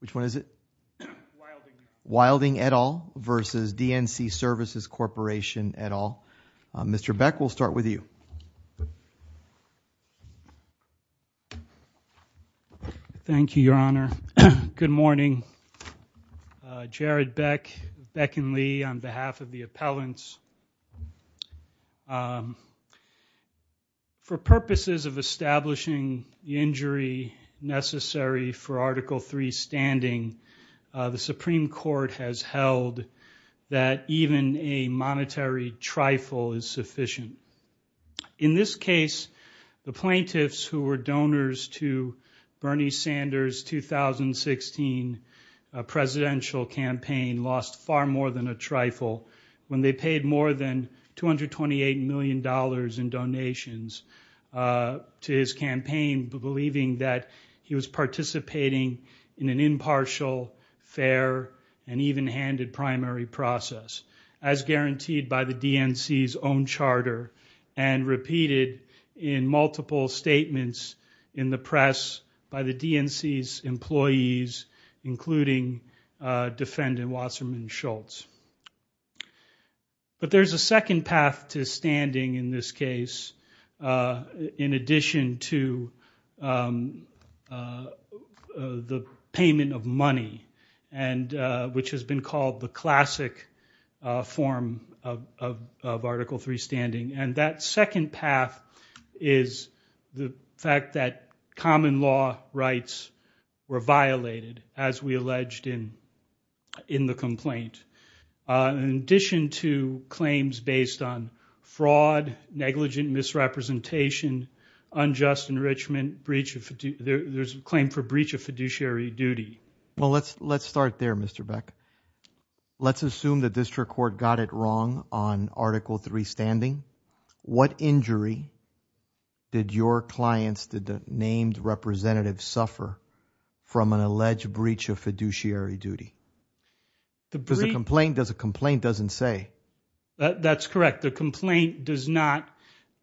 Which one is it? Wilding et al. versus DNC Services Corporation et al. Mr. Beck, we'll start with you. Thank you, Your Honor. Good morning. Jared Beck, Beck and Lee on behalf of the appellants. For purposes of establishing the injury necessary for Article III standing, the Supreme Court has held that even a monetary trifle is sufficient. In this case, the plaintiffs who were donors to Bernie Sanders' 2016 presidential campaign lost far more than a trifle when they paid more than $228 million in donations to his campaign, believing that he was participating in an impartial, fair, and even-handed primary process, as guaranteed by the DNC's own charter and repeated in multiple statements in the press by the DNC's employees, including defendant Wasserman Schultz. But there's a second path to standing in this case, in addition to the payment of money, which has been called the classic form of Article III standing. And that second path is the fact that common law rights were violated, as we alleged in the complaint. In addition to claims based on fraud, negligent misrepresentation, unjust enrichment, there's a claim for breach of fiduciary duty. Well, let's start there, Mr. Beck. Let's assume the district court got it wrong on Article III standing. What injury did your clients, the named representatives, suffer from an alleged breach of fiduciary duty? The complaint doesn't say. That's correct. The complaint does not,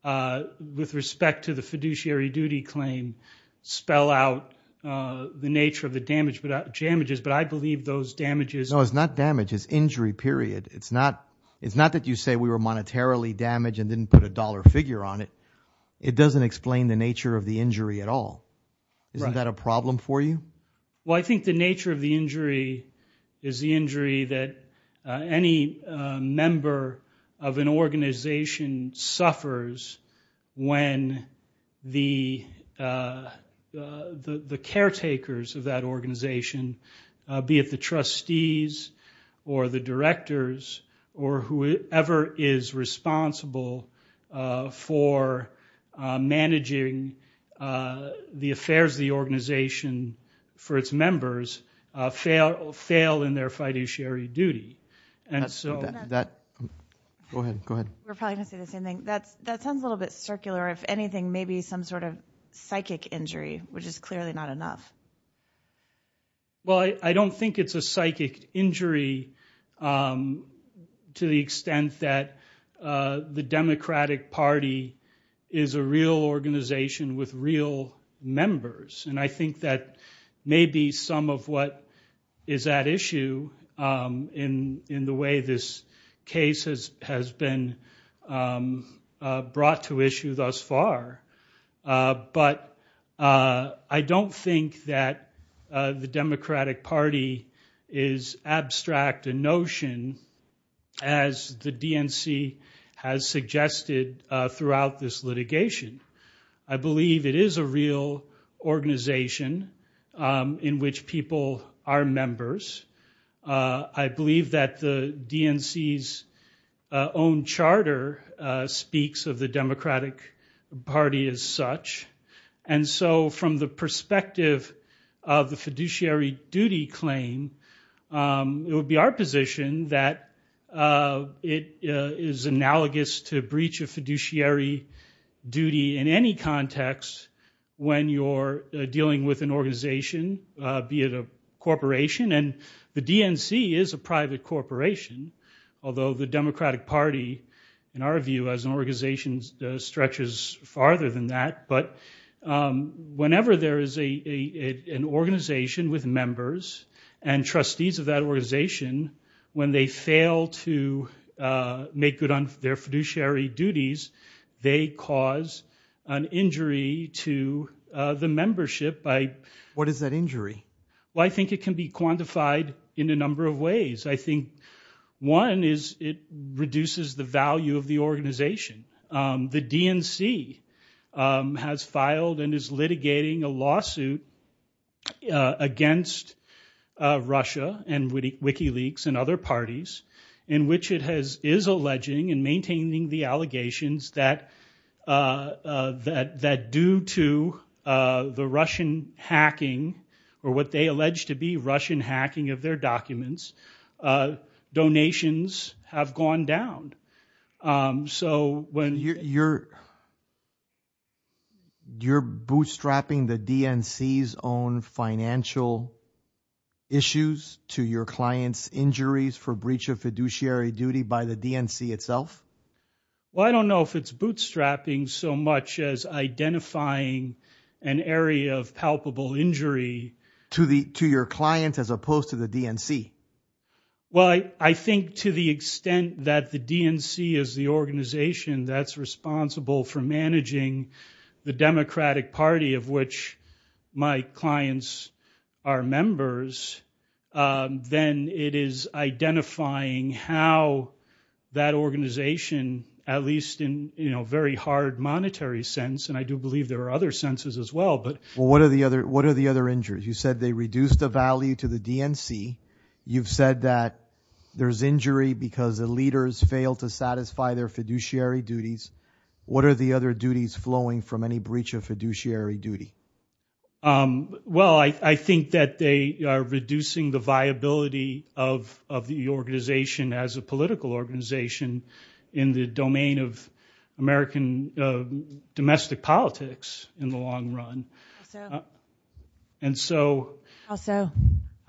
with respect to the fiduciary duty claim, spell out the nature of the damages, but I believe those damages- No, it's not damage. It's injury, period. It's not that you say we were monetarily damaged and didn't put a dollar figure on it. It doesn't explain the nature of the injury at all. Right. Isn't that a problem for you? Well, I think the nature of the injury is the injury that any member of an organization suffers when the caretakers of that organization, be it the trustees or the directors or whoever is responsible for managing the affairs of the organization for its members, fail in their fiduciary duty. Go ahead. We're probably going to say the same thing. That sounds a little bit circular. If anything, maybe some sort of psychic injury, which is clearly not enough. Well, I don't think it's a psychic injury to the extent that the Democratic Party is a real organization with real members. And I think that may be some of what is at issue in the way this case has been brought to issue thus far. But I don't think that the Democratic Party is abstract a notion as the DNC has suggested throughout this litigation. I believe it is a real organization in which people are members. I believe that the DNC's own charter speaks of the Democratic Party as such. And so from the perspective of the fiduciary duty claim, it would be our position that it is analogous to breach of fiduciary duty in any context when you're dealing with an organization, be it a corporation. And the DNC is a private corporation, although the Democratic Party, in our view, as an organization, stretches farther than that. But whenever there is an organization with members and trustees of that organization, when they fail to make good on their fiduciary duties, they cause an injury to the membership. What is that injury? Well, I think it can be quantified in a number of ways. I think one is it reduces the value of the organization. The DNC has filed and is litigating a lawsuit against Russia and Wikileaks and other parties in which it is alleging and maintaining the allegations that due to the Russian hacking or what they allege to be Russian hacking of their documents, donations have gone down. So when... You're bootstrapping the DNC's own financial issues to your client's injuries for breach of fiduciary duty by the DNC itself? Well, I don't know if it's bootstrapping so much as identifying an area of palpable injury. To your client as opposed to the DNC? Well, I think to the extent that the DNC is the organization that's responsible for managing the Democratic Party of which my clients are members, then it is identifying how that organization, at least in a very hard monetary sense, and I do believe there are other senses as well, but... Well, what are the other injuries? You said they reduced the value to the DNC. You've said that there's injury because the leaders failed to satisfy their fiduciary duties. What are the other duties flowing from any breach of fiduciary duty? Well, I think that they are reducing the viability of the organization as a political organization in the domain of American domestic politics in the long run. Also... And so... Also...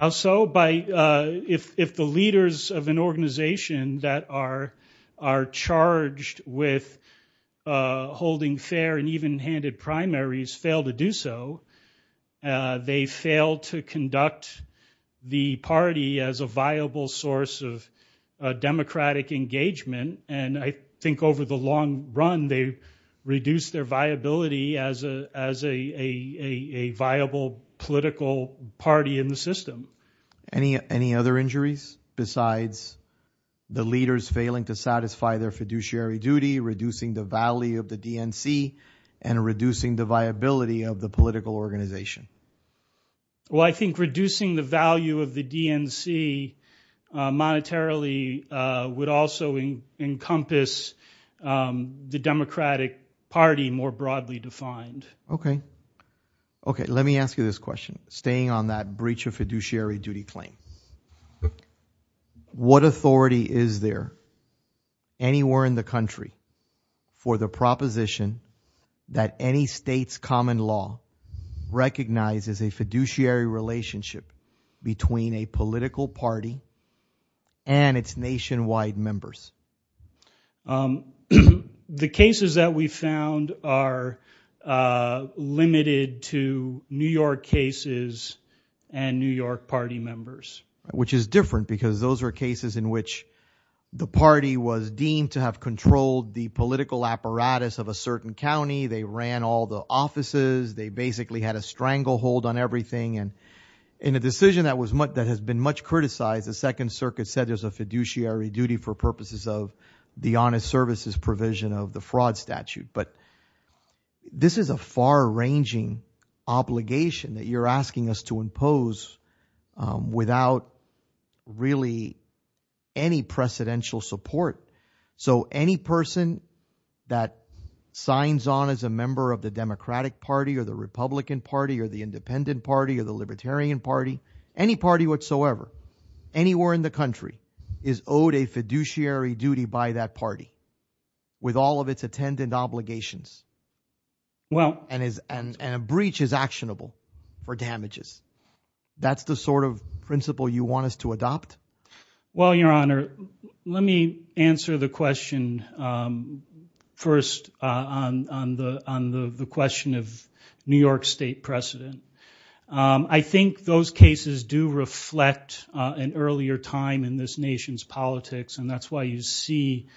If the leaders of an organization that are charged with holding fair and even-handed primaries fail to do so, they fail to conduct the party as a viable source of democratic engagement, and I think over the long run they reduce their viability as a viable political party in the system. Any other injuries besides the leaders failing to satisfy their fiduciary duty, reducing the value of the DNC, and reducing the viability of the political organization? Well, I think reducing the value of the DNC monetarily would also encompass the Democratic Party more broadly defined. Okay. Okay, let me ask you this question. Staying on that breach of fiduciary duty claim, what authority is there anywhere in the country for the proposition that any state's common law recognizes a fiduciary relationship between a political party and its nationwide members? The cases that we found are limited to New York cases and New York party members. Which is different because those are cases in which the party was deemed to have controlled the political apparatus of a certain county. They ran all the offices. They basically had a stranglehold on everything, and in a decision that has been much criticized, the Second Circuit said there's a fiduciary duty for purposes of the honest services provision of the fraud statute. But this is a far-ranging obligation that you're asking us to impose without really any precedential support. So any person that signs on as a member of the Democratic Party or the Republican Party or the Independent Party or the Libertarian Party, any party whatsoever, anywhere in the country, is owed a fiduciary duty by that party with all of its attendant obligations. And a breach is actionable for damages. That's the sort of principle you want us to adopt? Well, Your Honor, let me answer the question first on the question of New York state precedent. I think those cases do reflect an earlier time in this nation's politics, and that's why you see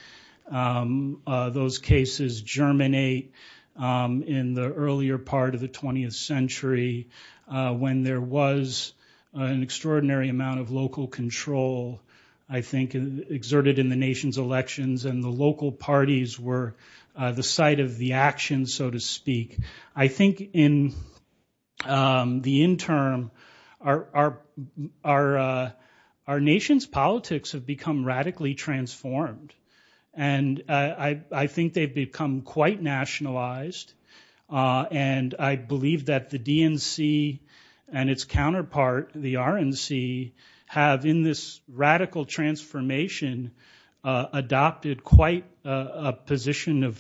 those cases germinate in the earlier part of the 20th century when there was an extraordinary amount of local control, I think, exerted in the nation's elections, and the local parties were the site of the action, so to speak. I think in the interim, our nation's politics have become radically transformed, and I think they've become quite nationalized. And I believe that the DNC and its counterpart, the RNC, have in this radical transformation adopted quite a position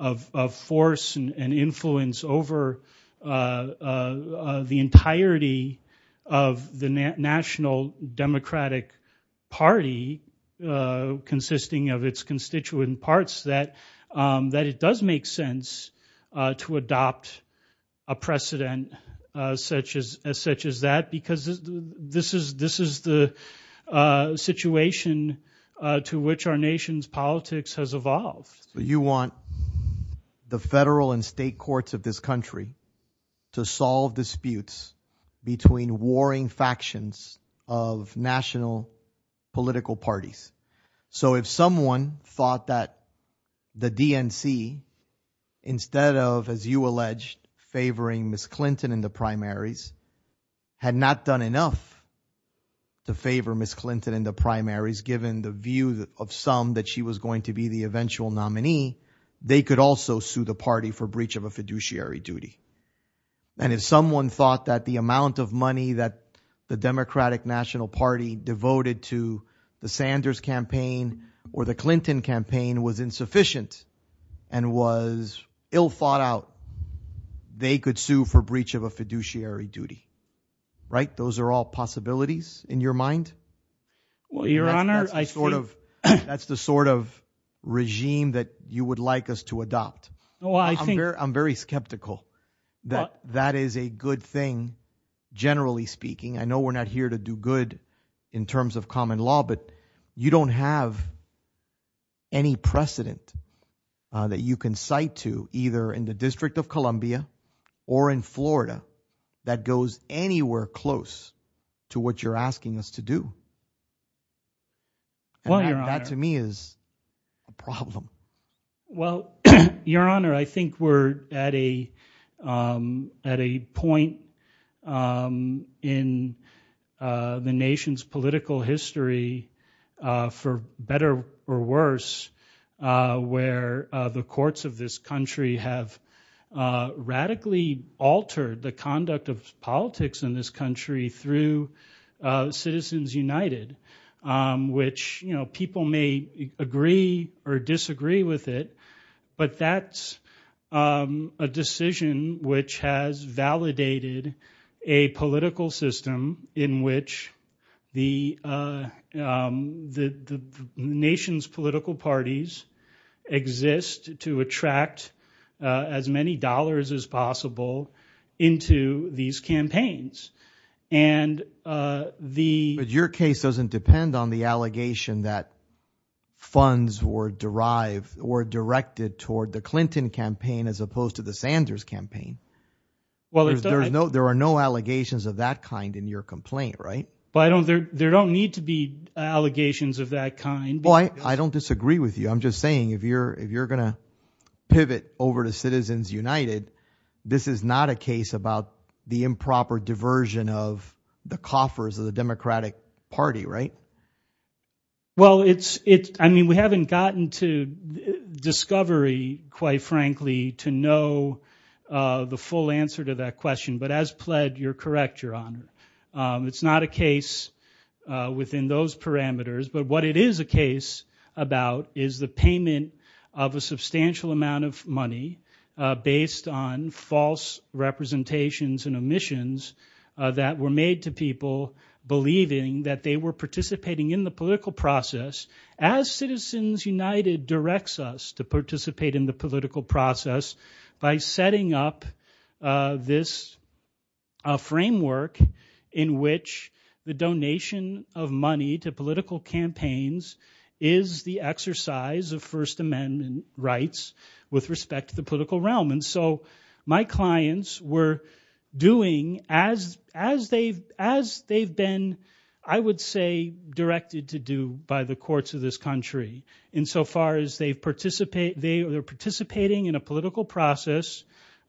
of force and influence over the entirety of the National Democratic Party consisting of its constituent parts that it does make sense to adopt a precedent such as that, because this is the situation to which our nation's politics has evolved. You want the federal and state courts of this country to solve disputes between warring factions of national political parties. So if someone thought that the DNC, instead of, as you alleged, favoring Ms. Clinton in the primaries, had not done enough to favor Ms. Clinton in the primaries given the view of some that she was going to be the eventual nominee, they could also sue the party for breach of a fiduciary duty. And if someone thought that the amount of money that the Democratic National Party devoted to the Sanders campaign or the Clinton campaign was insufficient and was ill-thought-out, they could sue for breach of a fiduciary duty. Right? Those are all possibilities in your mind? Well, Your Honor, I think— That's the sort of regime that you would like us to adopt. I'm very skeptical that that is a good thing, generally speaking. I know we're not here to do good in terms of common law, but you don't have any precedent that you can cite to, either in the District of Columbia or in Florida, that goes anywhere close to what you're asking us to do. Well, Your Honor, I think we're at a point in the nation's political history, for better or worse, where the courts of this country have radically altered the conduct of politics in this country through Citizens United, which people may agree or disagree with it, but that's a decision which has validated a political system in which the nation's political parties exist to attract as many dollars as possible into these campaigns. But your case doesn't depend on the allegation that funds were derived or directed toward the Clinton campaign as opposed to the Sanders campaign. There are no allegations of that kind in your complaint, right? There don't need to be allegations of that kind. I don't disagree with you. I'm just saying if you're going to pivot over to Citizens United, this is not a case about the improper diversion of the coffers of the Democratic Party, right? Well, I mean, we haven't gotten to discovery, quite frankly, to know the full answer to that question, but as pled, you're correct, Your Honor. It's not a case within those parameters, but what it is a case about is the payment of a substantial amount of money based on false representations and omissions that were made to people believing that they were participating in the political process as Citizens United directs us to participate in the political process by setting up this framework in which the donation of money to political campaigns is the exercise of First Amendment rights with respect to the political realm, and so my clients were doing as they've been, I would say, directed to do by the courts of this country insofar as they're participating in a political process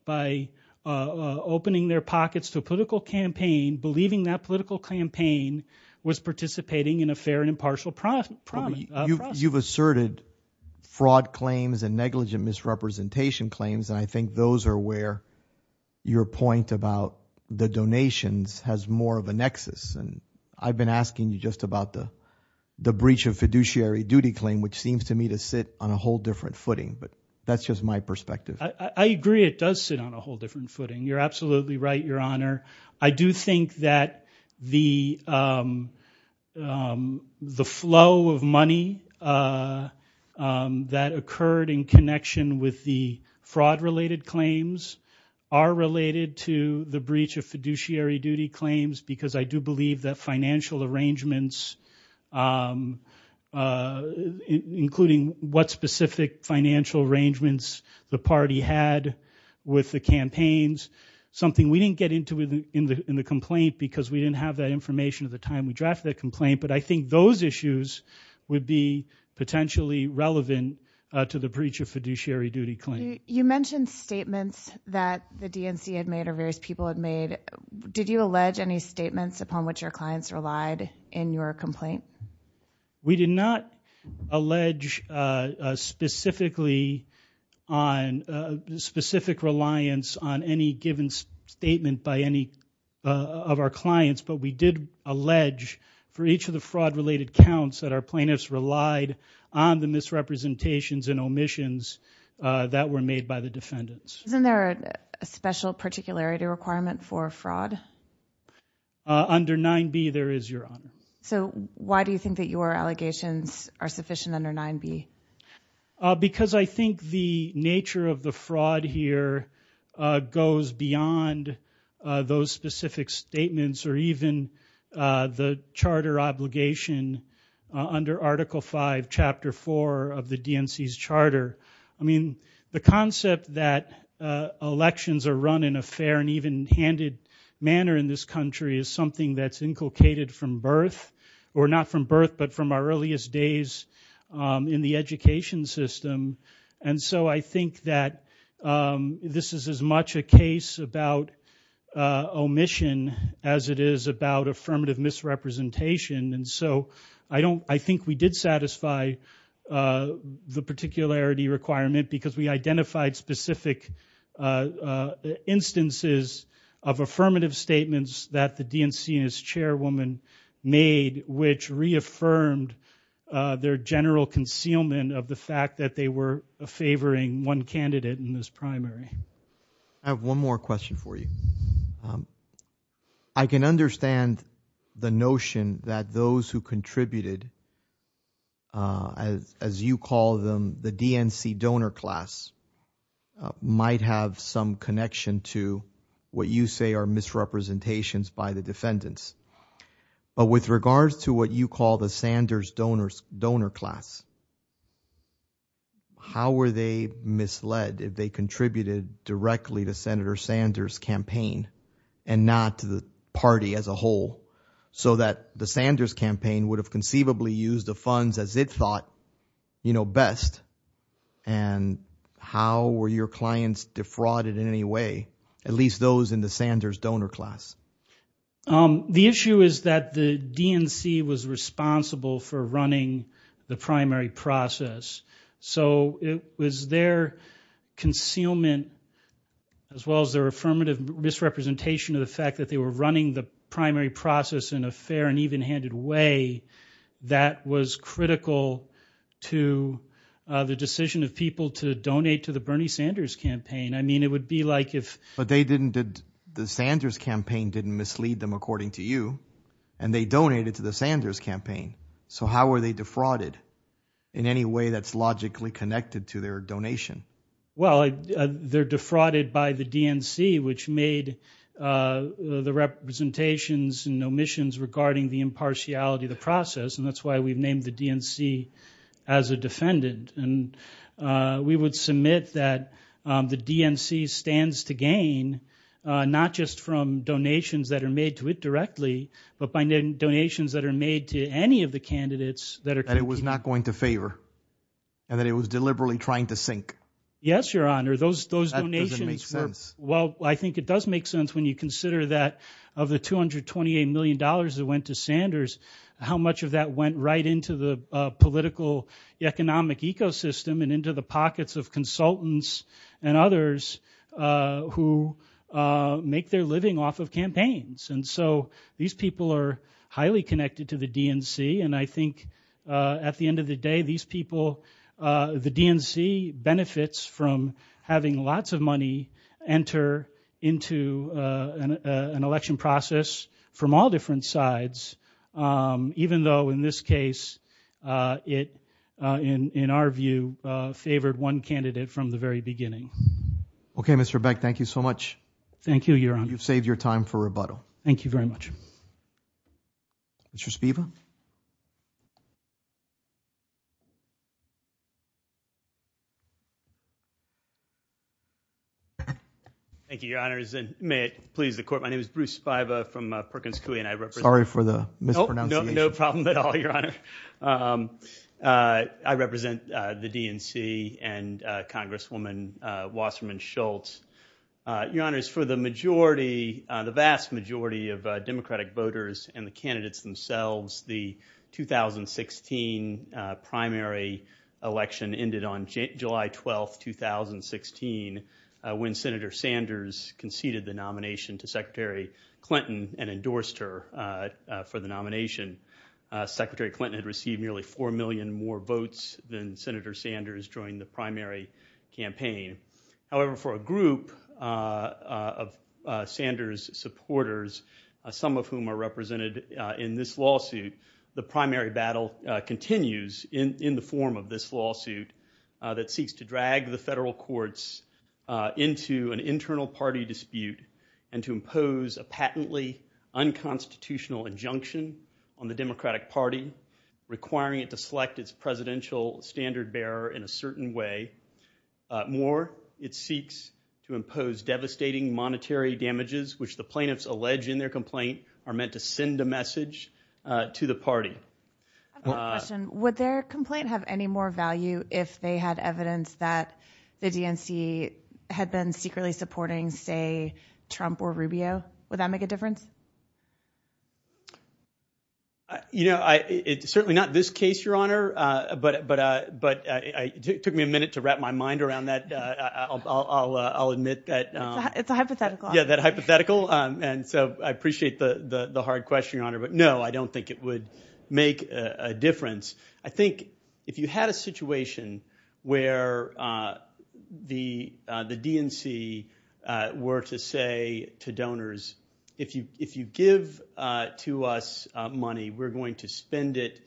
by opening their pockets to a political campaign, believing that political campaign was participating in a fair and impartial process. You've asserted fraud claims and negligent misrepresentation claims, and I think those are where your point about the donations has more of a nexus, and I've been asking you just about the breach of fiduciary duty claim, which seems to me to sit on a whole different footing, but that's just my perspective. I agree it does sit on a whole different footing. You're absolutely right, Your Honor. I do think that the flow of money that occurred in connection with the fraud-related claims are related to the breach of fiduciary duty claims because I do believe that financial arrangements, including what specific financial arrangements the party had with the campaigns, something we didn't get into in the complaint because we didn't have that information at the time we drafted that complaint, but I think those issues would be potentially relevant to the breach of fiduciary duty claim. You mentioned statements that the DNC had made or various people had made. Did you allege any statements upon which your clients relied in your complaint? We did not allege specific reliance on any given statement by any of our clients, but we did allege for each of the fraud-related counts that our plaintiffs relied on the misrepresentations and omissions that were made by the defendants. Isn't there a special particularity requirement for fraud? So why do you think that your allegations are sufficient under 9b? Because I think the nature of the fraud here goes beyond those specific statements or even the charter obligation under Article V, Chapter 4 of the DNC's charter. I mean, the concept that elections are run in a fair and even-handed manner in this country is something that's inculcated from birth, or not from birth but from our earliest days in the education system, and so I think that this is as much a case about omission as it is about affirmative misrepresentation, and so I think we did satisfy the particularity requirement because we identified specific instances of affirmative statements that the DNC's chairwoman made which reaffirmed their general concealment of the fact that they were favoring one candidate in this primary. I have one more question for you. I can understand the notion that those who contributed, as you call them, the DNC donor class might have some connection to what you say are misrepresentations by the defendants, but with regards to what you call the Sanders donor class, how were they misled if they contributed directly to Senator Sanders' campaign and not to the party as a whole so that the Sanders campaign would have conceivably used the funds as it thought best, and how were your clients defrauded in any way, at least those in the Sanders donor class? The issue is that the DNC was responsible for running the primary process, so it was their concealment as well as their affirmative misrepresentation of the fact that they were running the primary process in a fair and even-handed way that was critical to the decision of people to donate to the Bernie Sanders campaign. I mean, it would be like if they didn't did the Sanders campaign didn't mislead them according to you, and they donated to the Sanders campaign. So how were they defrauded in any way that's logically connected to their donation? Well, they're defrauded by the DNC, which made the representations and omissions regarding the impartiality of the process, and that's why we've named the DNC as a defendant. And we would submit that the DNC stands to gain not just from donations that are made to it directly, but by donations that are made to any of the candidates that are competing. And it was not going to favor, and that it was deliberately trying to sink. Yes, Your Honor, those donations were. Well, I think it does make sense when you consider that of the $228 million that went to Sanders, how much of that went right into the political economic ecosystem and into the pockets of consultants and others who make their living off of campaigns. And so these people are highly connected to the DNC, and I think at the end of the day these people, the DNC benefits from having lots of money enter into an election process from all different sides, even though in this case it, in our view, favored one candidate from the very beginning. Okay, Mr. Beck, thank you so much. Thank you, Your Honor. You've saved your time for rebuttal. Thank you very much. Mr. Spiva? Thank you, Your Honors, and may it please the Court, my name is Bruce Spiva from Perkins Coie, and I represent the DNC and Congresswoman Wasserman Schultz. Your Honors, for the majority, the vast majority of Democratic voters and the candidates themselves, the 2016 primary election ended on July 12, 2016, when Senator Sanders conceded the nomination to Secretary Clinton and endorsed her for the nomination. Secretary Clinton had received nearly 4 million more votes than Senator Sanders during the primary campaign. However, for a group of Sanders supporters, some of whom are represented in this lawsuit, the primary battle continues in the form of this lawsuit that seeks to drag the federal courts into an internal party dispute and to impose a patently unconstitutional injunction on the Democratic Party, requiring it to select its presidential standard bearer in a certain way. More, it seeks to impose devastating monetary damages, which the plaintiffs allege in their complaint are meant to send a message to the party. I have a question. Would their complaint have any more value if they had evidence that the DNC had been secretly supporting, say, Trump or Rubio? Would that make a difference? You know, certainly not this case, Your Honor, but it took me a minute to wrap my mind around that. I'll admit that... It's a hypothetical. Yeah, that hypothetical. And so I appreciate the hard question, Your Honor, but no, I don't think it would make a difference. I think if you had a situation where the DNC were to say to donors, if you give to us money, we're going to spend it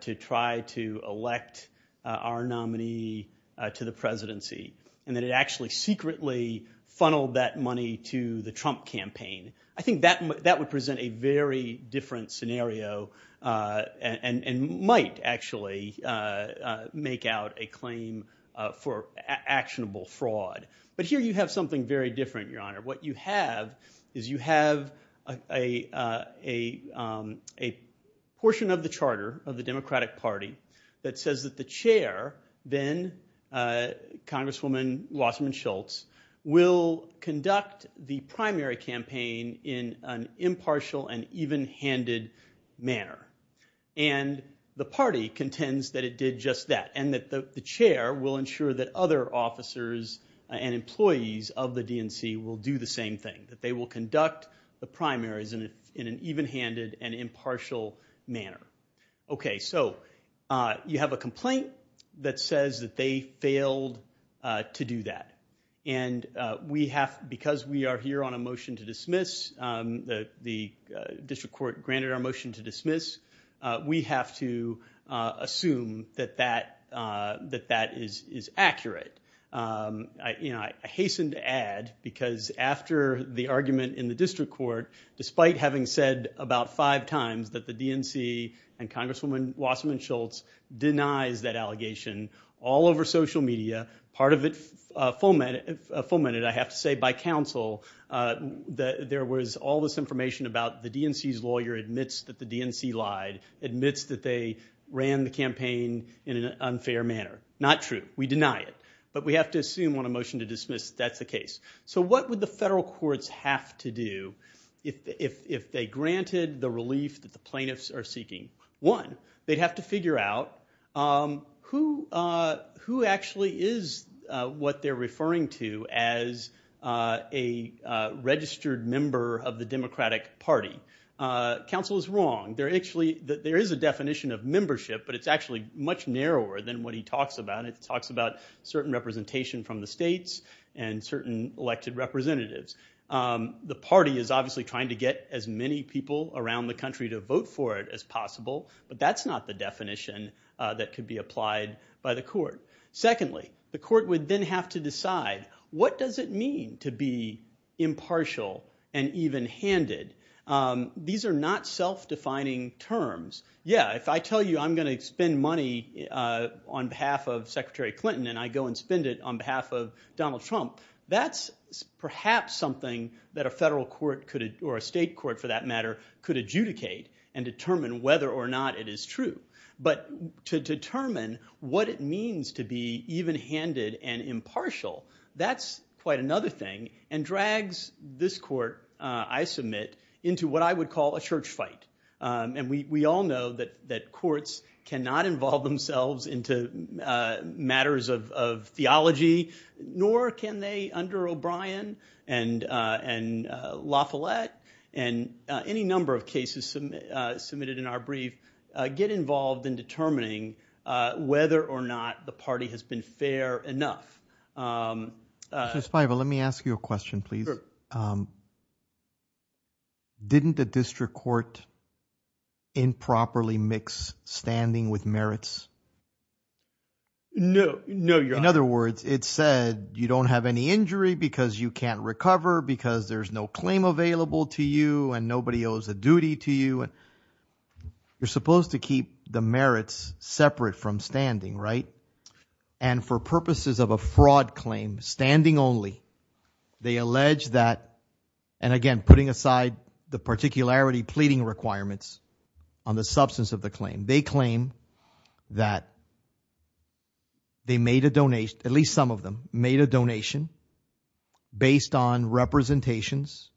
to try to elect our nominee to the presidency, and that it actually secretly funneled that money to the Trump campaign, I think that would present a very different scenario and might actually make out a claim for actionable fraud. But here you have something very different, Your Honor. What you have is you have a portion of the charter of the Democratic Party that says that the chair, then Congresswoman Wasserman Schultz, will conduct the primary campaign in an impartial and even-handed manner. And the party contends that it did just that and that the chair will ensure that other officers and employees of the DNC will do the same thing, that they will conduct the primaries in an even-handed and impartial manner. Okay, so you have a complaint that says that they failed to do that. And because we are here on a motion to dismiss, the district court granted our motion to dismiss, we have to assume that that is accurate. I hasten to add because after the argument in the district court, despite having said about five times that the DNC and Congresswoman Wasserman Schultz denies that allegation all over social media, part of it fomented, I have to say, by counsel. There was all this information about the DNC's lawyer admits that the DNC lied, admits that they ran the campaign in an unfair manner. Not true. We deny it. But we have to assume on a motion to dismiss that that's the case. So what would the federal courts have to do if they granted the relief that the plaintiffs are seeking? One, they'd have to figure out who actually is what they're referring to as a registered member of the Democratic Party. Counsel is wrong. There is a definition of membership, but it's actually much narrower than what he talks about. It talks about certain representation from the states and certain elected representatives. The party is obviously trying to get as many people around the country to vote for it as possible, but that's not the definition that could be applied by the court. Secondly, the court would then have to decide, what does it mean to be impartial and even-handed? These are not self-defining terms. Yeah, if I tell you I'm going to spend money on behalf of Secretary Clinton and I go and spend it on behalf of Donald Trump, that's perhaps something that a federal court or a state court, for that matter, could adjudicate and determine whether or not it is true. But to determine what it means to be even-handed and impartial, that's quite another thing and drags this court, I submit, into what I would call a church fight. And we all know that courts cannot involve themselves into matters of theology, nor can they under O'Brien and La Follette and any number of cases submitted in our brief get involved in determining whether or not the party has been fair enough. Justice Feivel, let me ask you a question, please. Sure. Didn't the district court improperly mix standing with merits? No, Your Honor. In other words, it said you don't have any injury because you can't recover because there's no claim available to you and nobody owes a duty to you. You're supposed to keep the merits separate from standing, right? And for purposes of a fraud claim, standing only, they allege that, and again, putting aside the particularity pleading requirements on the substance of the claim, they claim that they made a donation, at least some of them, made a donation based on representations.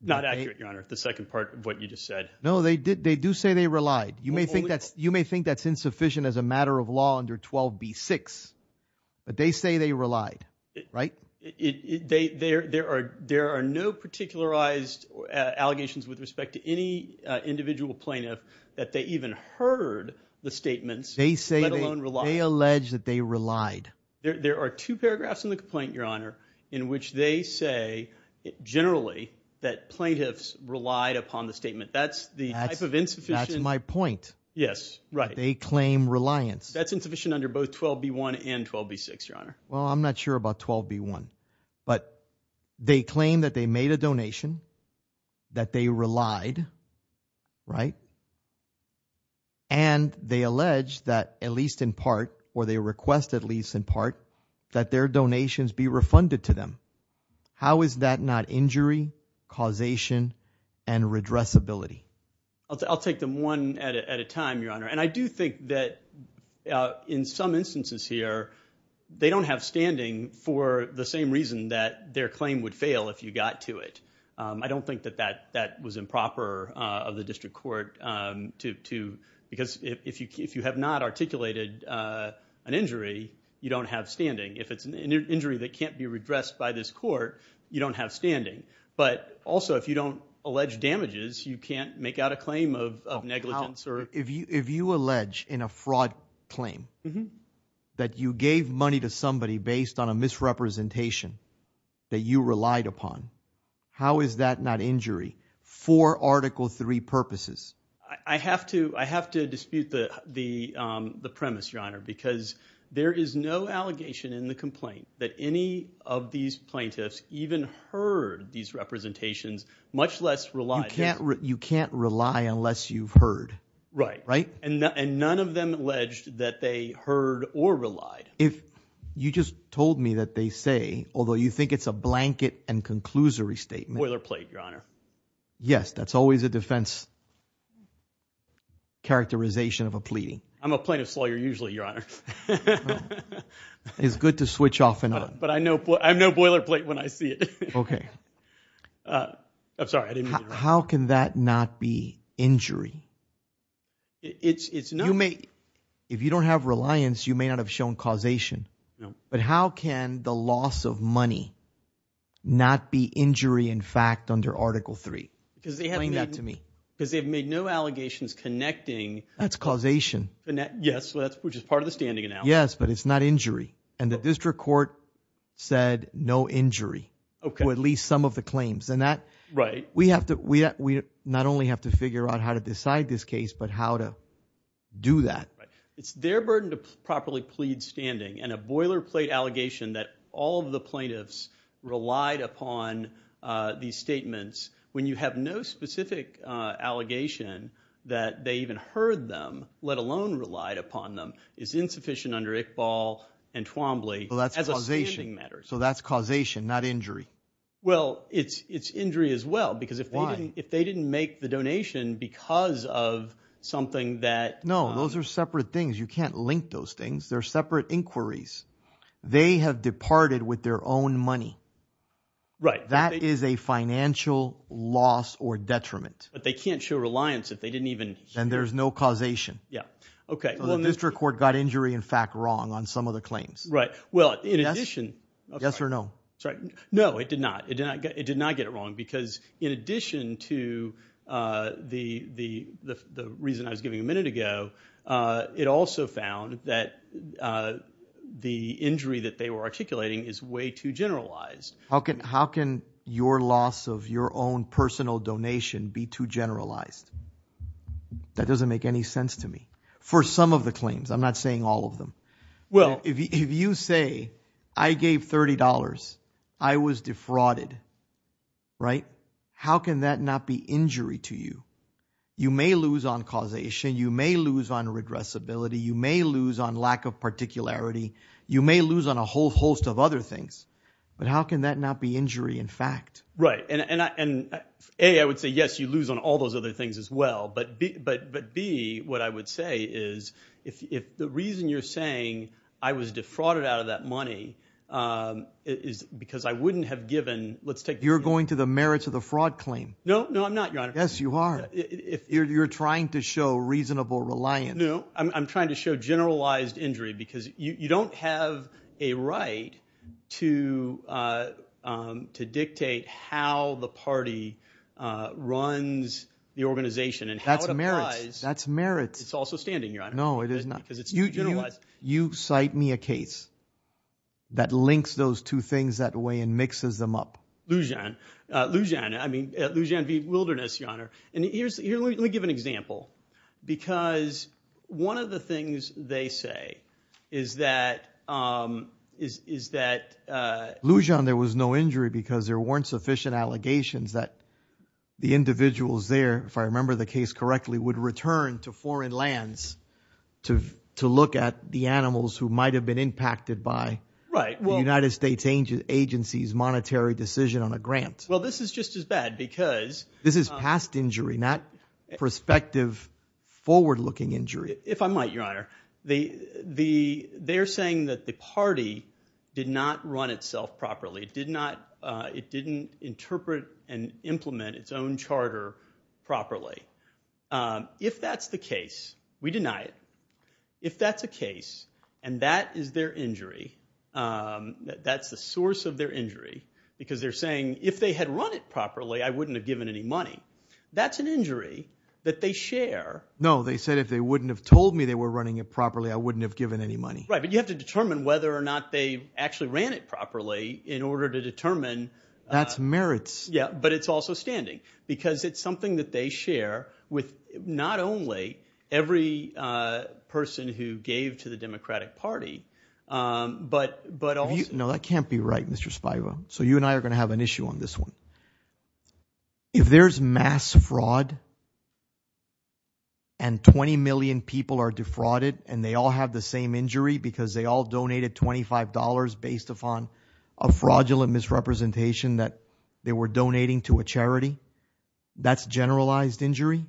Not accurate, Your Honor, the second part of what you just said. No, they do say they relied. You may think that's insufficient as a matter of law under 12b-6, but they say they relied, right? There are no particularized allegations with respect to any individual plaintiff that they even heard the statements, let alone relied. They allege that they relied. There are two paragraphs in the complaint, Your Honor, in which they say generally that plaintiffs relied upon the statement. That's the type of insufficient. That's my point. Yes, right. They claim reliance. That's insufficient under both 12b-1 and 12b-6, Your Honor. Well, I'm not sure about 12b-1. But they claim that they made a donation, that they relied, right? And they allege that at least in part, or they request at least in part, that their donations be refunded to them. How is that not injury, causation, and redressability? I'll take them one at a time, Your Honor. And I do think that in some instances here, they don't have standing for the same reason that their claim would fail if you got to it. I don't think that that was improper of the district court to – because if you have not articulated an injury, you don't have standing. If it's an injury that can't be redressed by this court, you don't have standing. But also, if you don't allege damages, you can't make out a claim of negligence. If you allege in a fraud claim that you gave money to somebody based on a misrepresentation that you relied upon, how is that not injury for Article III purposes? I have to dispute the premise, Your Honor, because there is no allegation in the complaint that any of these plaintiffs even heard these representations, much less relied on them. You can't rely unless you've heard, right? Right. And none of them alleged that they heard or relied. You just told me that they say, although you think it's a blanket and conclusory statement. Boilerplate, Your Honor. Yes. That's always a defense characterization of a pleading. I'm a plaintiff's lawyer usually, Your Honor. It's good to switch off and on. But I have no boilerplate when I see it. Okay. I'm sorry. How can that not be injury? If you don't have reliance, you may not have shown causation. But how can the loss of money not be injury in fact under Article III? Because they have made no allegations connecting. That's causation. Yes, which is part of the standing analysis. Yes, but it's not injury. And the district court said no injury to at least some of the claims. Right. We not only have to figure out how to decide this case but how to do that. Right. It's their burden to properly plead standing. And a boilerplate allegation that all of the plaintiffs relied upon these statements when you have no specific allegation that they even heard them, let alone relied upon them, is insufficient under Iqbal and Twombly as a standing matter. So that's causation, not injury. Well, it's injury as well. Why? Because if they didn't make the donation because of something that— No. Those are separate things. You can't link those things. They're separate inquiries. They have departed with their own money. Right. That is a financial loss or detriment. But they can't show reliance if they didn't even— Then there's no causation. Yeah. Okay. So the district court got injury in fact wrong on some of the claims. Right. Well, in addition— Yes or no? Sorry. No, it did not. It did not get it wrong because in addition to the reason I was giving a minute ago, it also found that the injury that they were articulating is way too generalized. How can your loss of your own personal donation be too generalized? That doesn't make any sense to me. For some of the claims. I'm not saying all of them. If you say I gave $30, I was defrauded, how can that not be injury to you? You may lose on causation. You may lose on regressibility. You may lose on lack of particularity. You may lose on a whole host of other things. But how can that not be injury in fact? Right. A, I would say, yes, you lose on all those other things as well. But B, what I would say is if the reason you're saying I was defrauded out of that money is because I wouldn't have given— You're going to the merits of the fraud claim. No, I'm not, Your Honor. Yes, you are. You're trying to show reasonable reliance. No, I'm trying to show generalized injury because you don't have a right to dictate how the party runs the organization and how it applies. That's merits. It's also standing, Your Honor. No, it is not. Because it's too generalized. You cite me a case that links those two things that way and mixes them up. Lujan. Lujan v. Wilderness, Your Honor. Let me give an example because one of the things they say is that— Lujan, there was no injury because there weren't sufficient allegations that the individuals there, if I remember the case correctly, would return to foreign lands to look at the animals who might have been impacted by the United States agency's monetary decision on a grant. Well, this is just as bad because— This is past injury, not prospective forward-looking injury. If I might, Your Honor, they're saying that the party did not run itself properly. It didn't interpret and implement its own charter properly. If that's the case, we deny it. If that's the case and that is their injury, that's the source of their injury because they're saying if they had run it properly, I wouldn't have given any money. That's an injury that they share. No, they said if they wouldn't have told me they were running it properly, I wouldn't have given any money. Right, but you have to determine whether or not they actually ran it properly in order to determine— That's merits. Yeah, but it's also standing because it's something that they share with not only every person who gave to the Democratic Party but also— No, that can't be right, Mr. Spivo. So you and I are going to have an issue on this one. If there's mass fraud and 20 million people are defrauded and they all have the same injury because they all donated $25 based upon a fraudulent misrepresentation that they were donating to a charity, that's generalized injury?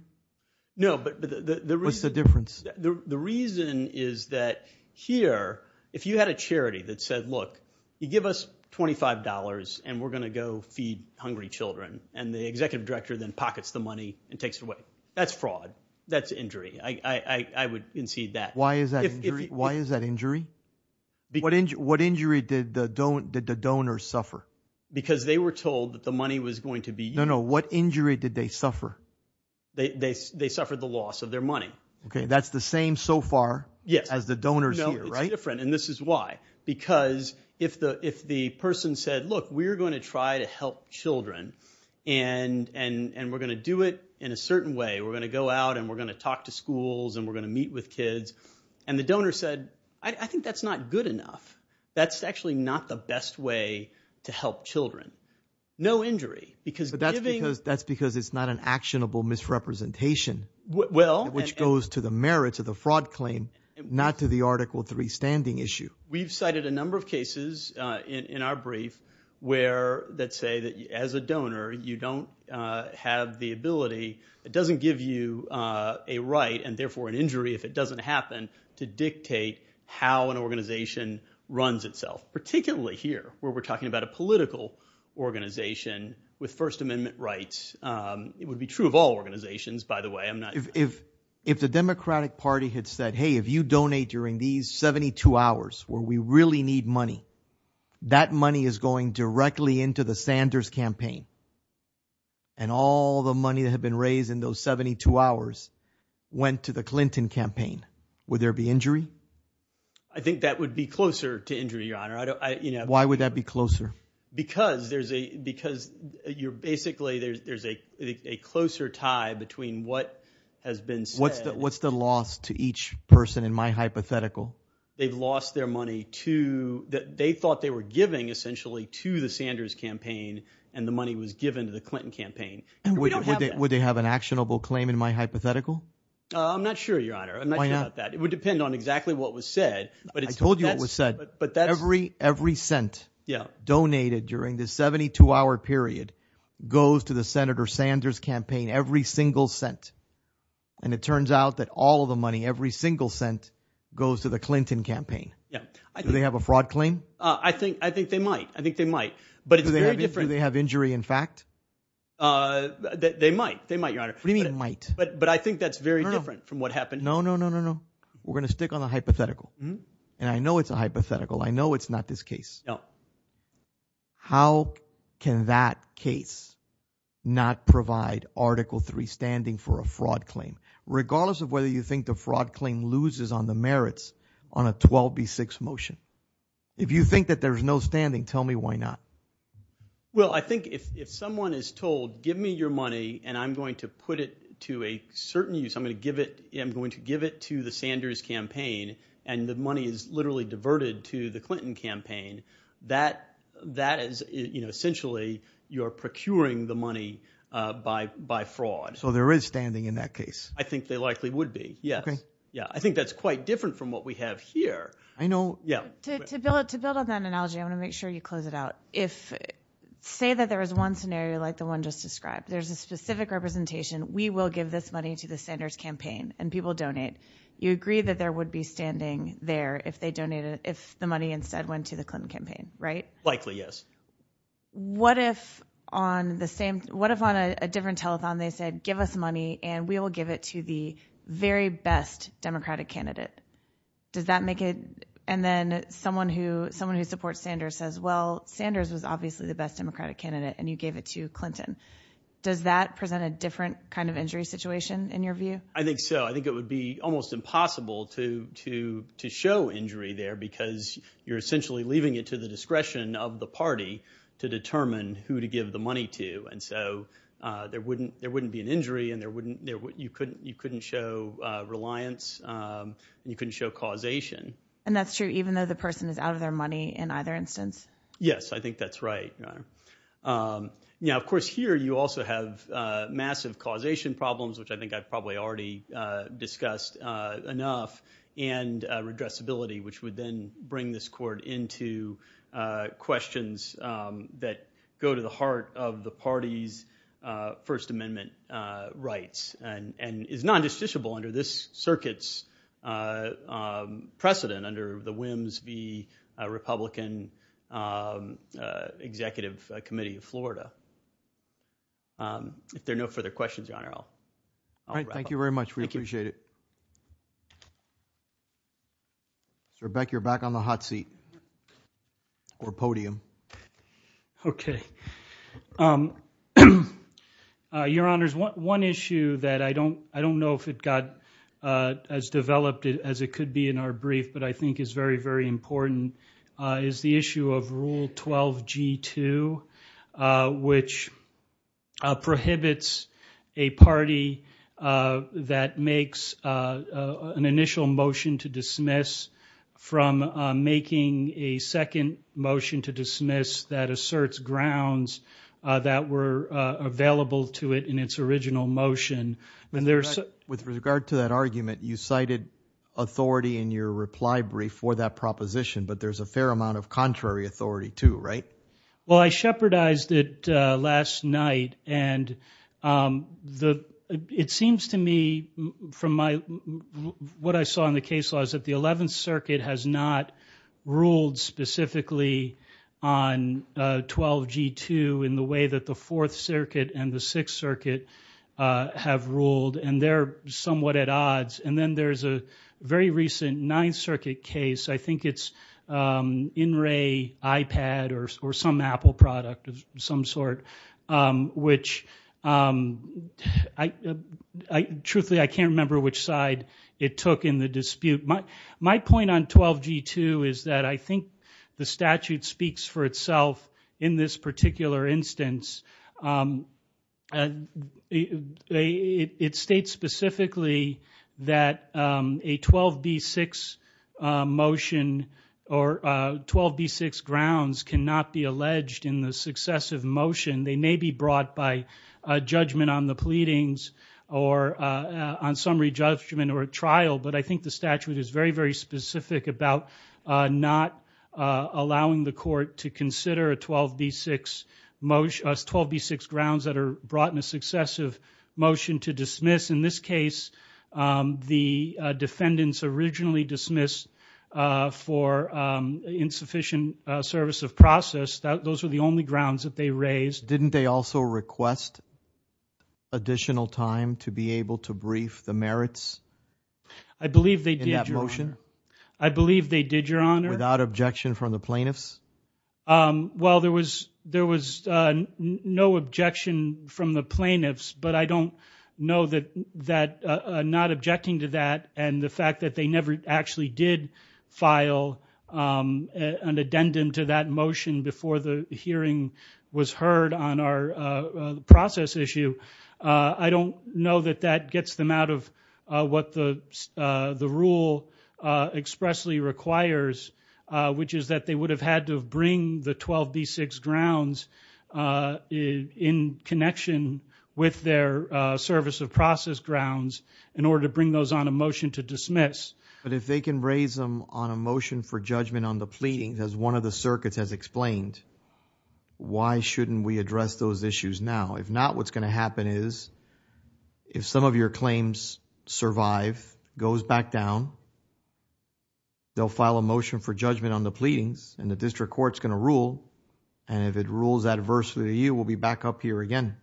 No, but the reason— What's the difference? The reason is that here if you had a charity that said, look, you give us $25 and we're going to go feed hungry children and the executive director then pockets the money and takes it away, that's fraud. That's injury. I would concede that. Why is that injury? What injury did the donors suffer? Because they were told that the money was going to be— No, no. What injury did they suffer? They suffered the loss of their money. OK. That's the same so far as the donors here, right? No, it's different, and this is why. Because if the person said, look, we're going to try to help children and we're going to do it in a certain way. We're going to go out and we're going to talk to schools and we're going to meet with kids. And the donor said, I think that's not good enough. That's actually not the best way to help children. No injury because giving— goes to the merits of the fraud claim, not to the Article III standing issue. We've cited a number of cases in our brief that say that as a donor you don't have the ability, it doesn't give you a right and therefore an injury if it doesn't happen, to dictate how an organization runs itself. Particularly here where we're talking about a political organization with First Amendment rights. It would be true of all organizations, by the way. If the Democratic Party had said, hey, if you donate during these 72 hours where we really need money, that money is going directly into the Sanders campaign. And all the money that had been raised in those 72 hours went to the Clinton campaign. Would there be injury? I think that would be closer to injury, Your Honor. Why would that be closer? Because there's a—because you're basically—there's a closer tie between what has been said— What's the loss to each person in my hypothetical? They've lost their money to—they thought they were giving essentially to the Sanders campaign and the money was given to the Clinton campaign. Would they have an actionable claim in my hypothetical? I'm not sure, Your Honor. I'm not sure about that. It would depend on exactly what was said. I told you what was said. Every cent donated during this 72-hour period goes to the Senator Sanders campaign, every single cent. And it turns out that all of the money, every single cent goes to the Clinton campaign. Do they have a fraud claim? I think they might. I think they might. Do they have injury in fact? They might. They might, Your Honor. What do you mean might? But I think that's very different from what happened. No, no, no, no, no. We're going to stick on the hypothetical. And I know it's a hypothetical. I know it's not this case. No. How can that case not provide Article III standing for a fraud claim regardless of whether you think the fraud claim loses on the merits on a 12B6 motion? If you think that there's no standing, tell me why not. Well, I think if someone is told give me your money and I'm going to put it to a certain use, I'm going to give it to the Sanders campaign and the money is literally diverted to the Clinton campaign, that is essentially you're procuring the money by fraud. So there is standing in that case. I think there likely would be, yes. I think that's quite different from what we have here. I know. To build on that analogy, I want to make sure you close it out. Say that there is one scenario like the one just described. There's a specific representation. We will give this money to the Sanders campaign and people donate. You agree that there would be standing there if the money instead went to the Clinton campaign, right? Likely, yes. What if on a different telethon they said give us money and we will give it to the very best Democratic candidate? Does that make it – and then someone who supports Sanders says, well, Sanders was obviously the best Democratic candidate and you gave it to Clinton. Does that present a different kind of injury situation in your view? I think so. I think it would be almost impossible to show injury there because you're essentially leaving it to the discretion of the party to determine who to give the money to. And so there wouldn't be an injury and you couldn't show reliance and you couldn't show causation. And that's true even though the person is out of their money in either instance? Yes, I think that's right. Now, of course, here you also have massive causation problems, which I think I've probably already discussed enough, and redressability, which would then bring this court into questions that go to the heart of the party's First Amendment rights and is non-justiciable under this circuit's precedent under the Whims v. Republican Executive Committee of Florida. If there are no further questions, Your Honor, I'll wrap up. Thank you very much. We appreciate it. Sir Beck, you're back on the hot seat or podium. Okay. Your Honors, one issue that I don't know if it got as developed as it could be in our brief, but I think is very, very important is the issue of Rule 12G2, which prohibits a party that makes an initial motion to dismiss from making a second motion to dismiss that asserts grounds that were available to it in its original motion. With regard to that argument, you cited authority in your reply brief for that proposition, but there's a fair amount of contrary authority too, right? Well, I shepherdized it last night, and it seems to me from what I saw in the case laws that the Eleventh Circuit has not ruled specifically on 12G2 in the way that the Fourth Circuit and the Sixth Circuit have ruled, and they're somewhat at odds. And then there's a very recent Ninth Circuit case. I think it's In-Ray iPad or some Apple product of some sort, which truthfully I can't remember which side it took in the dispute. My point on 12G2 is that I think the statute speaks for itself in this particular instance. It states specifically that a 12B6 motion or 12B6 grounds cannot be alleged in the successive motion. They may be brought by judgment on the pleadings or on summary judgment or a trial, but I think the statute is very, very specific about not allowing the court to consider 12B6 grounds that are brought in a successive motion to dismiss. In this case, the defendants originally dismissed for insufficient service of process. Those are the only grounds that they raised. Didn't they also request additional time to be able to brief the merits in that motion? I believe they did, Your Honor. Without objection from the plaintiffs? Well, there was no objection from the plaintiffs, but I don't know that not objecting to that and the fact that they never actually did file an addendum to that motion before the hearing was heard on our process issue, I don't know that that gets them out of what the rule expressly requires, which is that they would have had to bring the 12B6 grounds in connection with their service of process grounds in order to bring those on a motion to dismiss. But if they can raise them on a motion for judgment on the pleadings, as one of the circuits has explained, why shouldn't we address those issues now? If not, what's going to happen is if some of your claims survive, goes back down, they'll file a motion for judgment on the pleadings, and the district court's going to rule, and if it rules adversely to you, we'll be back up here again.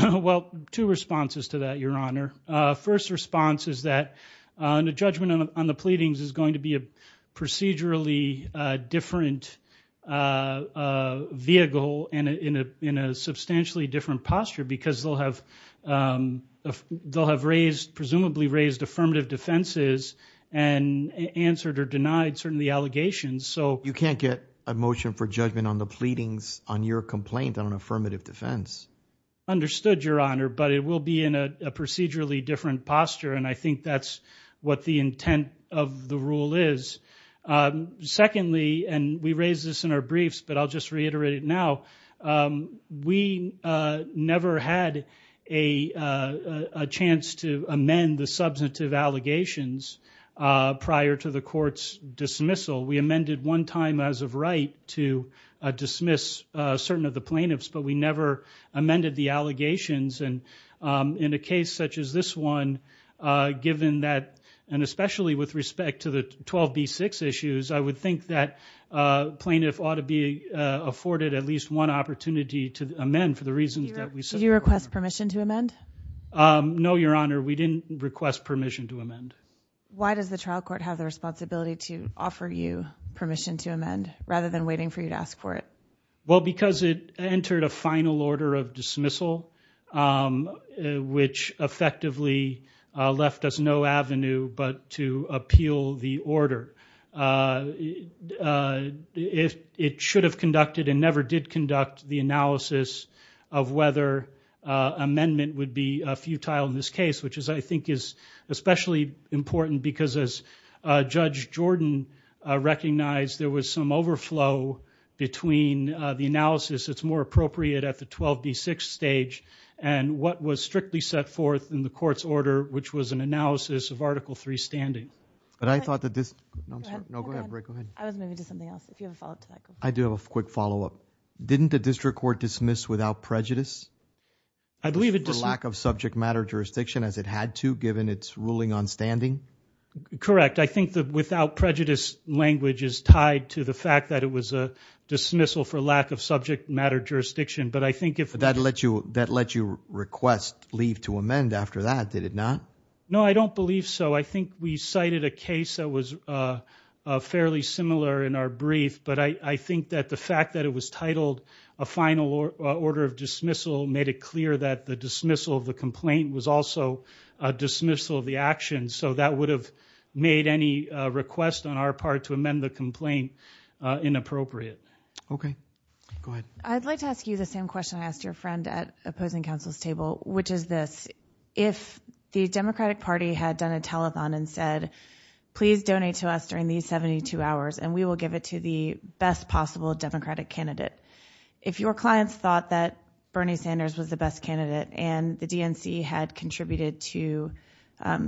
Well, two responses to that, Your Honor. First response is that the judgment on the pleadings is going to be a procedurally different vehicle and in a substantially different posture because they'll have raised, presumably raised, affirmative defenses and answered or denied, certainly, the allegations. You can't get a motion for judgment on the pleadings on your complaint on an affirmative defense. Understood, Your Honor, but it will be in a procedurally different posture, and I think that's what the intent of the rule is. Secondly, and we raised this in our briefs, but I'll just reiterate it now, we never had a chance to amend the substantive allegations prior to the court's dismissal. We amended one time as of right to dismiss certain of the plaintiffs, but we never amended the allegations, and in a case such as this one, given that and especially with respect to the 12B6 issues, I would think that plaintiff ought to be afforded at least one opportunity to amend for the reasons that we said. Did you request permission to amend? No, Your Honor, we didn't request permission to amend. Why does the trial court have the responsibility to offer you permission to amend rather than waiting for you to ask for it? Well, because it entered a final order of dismissal, which effectively left us no avenue but to appeal the order. It should have conducted and never did conduct the analysis of whether amendment would be futile in this case, which I think is especially important because as Judge Jordan recognized, there was some overflow between the analysis that's more appropriate at the 12B6 stage and what was strictly set forth in the court's order, which was an analysis of Article III standing. But I thought that this – no, I'm sorry. Go ahead. I was moving to something else. If you have a follow-up to that, go ahead. I do have a quick follow-up. Didn't the district court dismiss without prejudice? I believe it – For lack of subject matter jurisdiction as it had to given its ruling on standing? Correct. I think the without prejudice language is tied to the fact that it was a dismissal for lack of subject matter jurisdiction. But I think if – But that let you request leave to amend after that, did it not? No, I don't believe so. I think we cited a case that was fairly similar in our brief, but I think that the fact that it was titled a final order of dismissal made it clear that the dismissal of the complaint was also a dismissal of the action. So that would have made any request on our part to amend the complaint inappropriate. Okay. Go ahead. I'd like to ask you the same question I asked your friend at opposing counsel's table, which is this. If the Democratic Party had done a telethon and said, please donate to us during these 72 hours and we will give it to the best possible Democratic candidate, if your clients thought that Bernie Sanders was the best candidate and the DNC had contributed to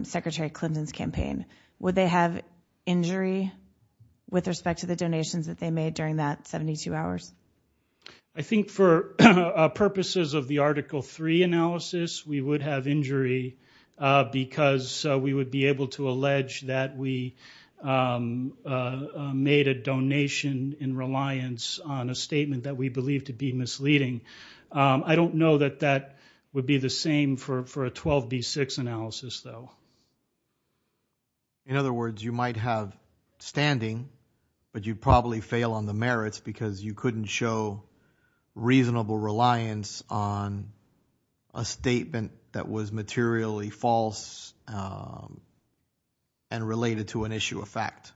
Secretary Clinton's campaign, would they have injury with respect to the donations that they made during that 72 hours? I think for purposes of the Article 3 analysis, we would have injury because we would be able to allege that we made a donation in reliance on a statement that we believe to be misleading. I don't know that that would be the same for a 12B6 analysis, though. In other words, you might have standing, but you'd probably fail on the merits because you couldn't show reasonable reliance on a statement that was materially false and related to an issue of fact.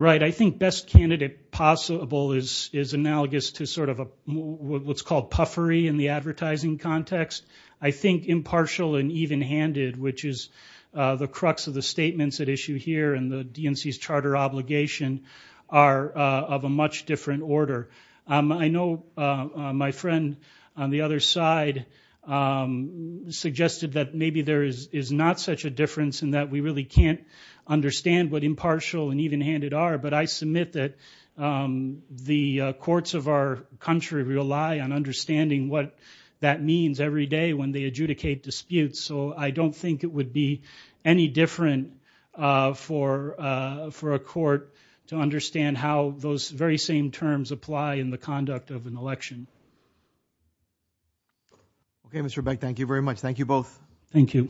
Right. I think best candidate possible is analogous to sort of what's called puffery in the advertising context. I think impartial and evenhanded, which is the crux of the statements at issue here and the DNC's charter obligation, are of a much different order. I know my friend on the other side suggested that maybe there is not such a difference in that we really can't understand what impartial and evenhanded are, but I submit that the courts of our country rely on understanding what that means every day when they adjudicate disputes. So I don't think it would be any different for a court to understand how those very same terms apply in the conduct of an election. Okay, Mr. Beck, thank you very much. Thank you both. Thank you.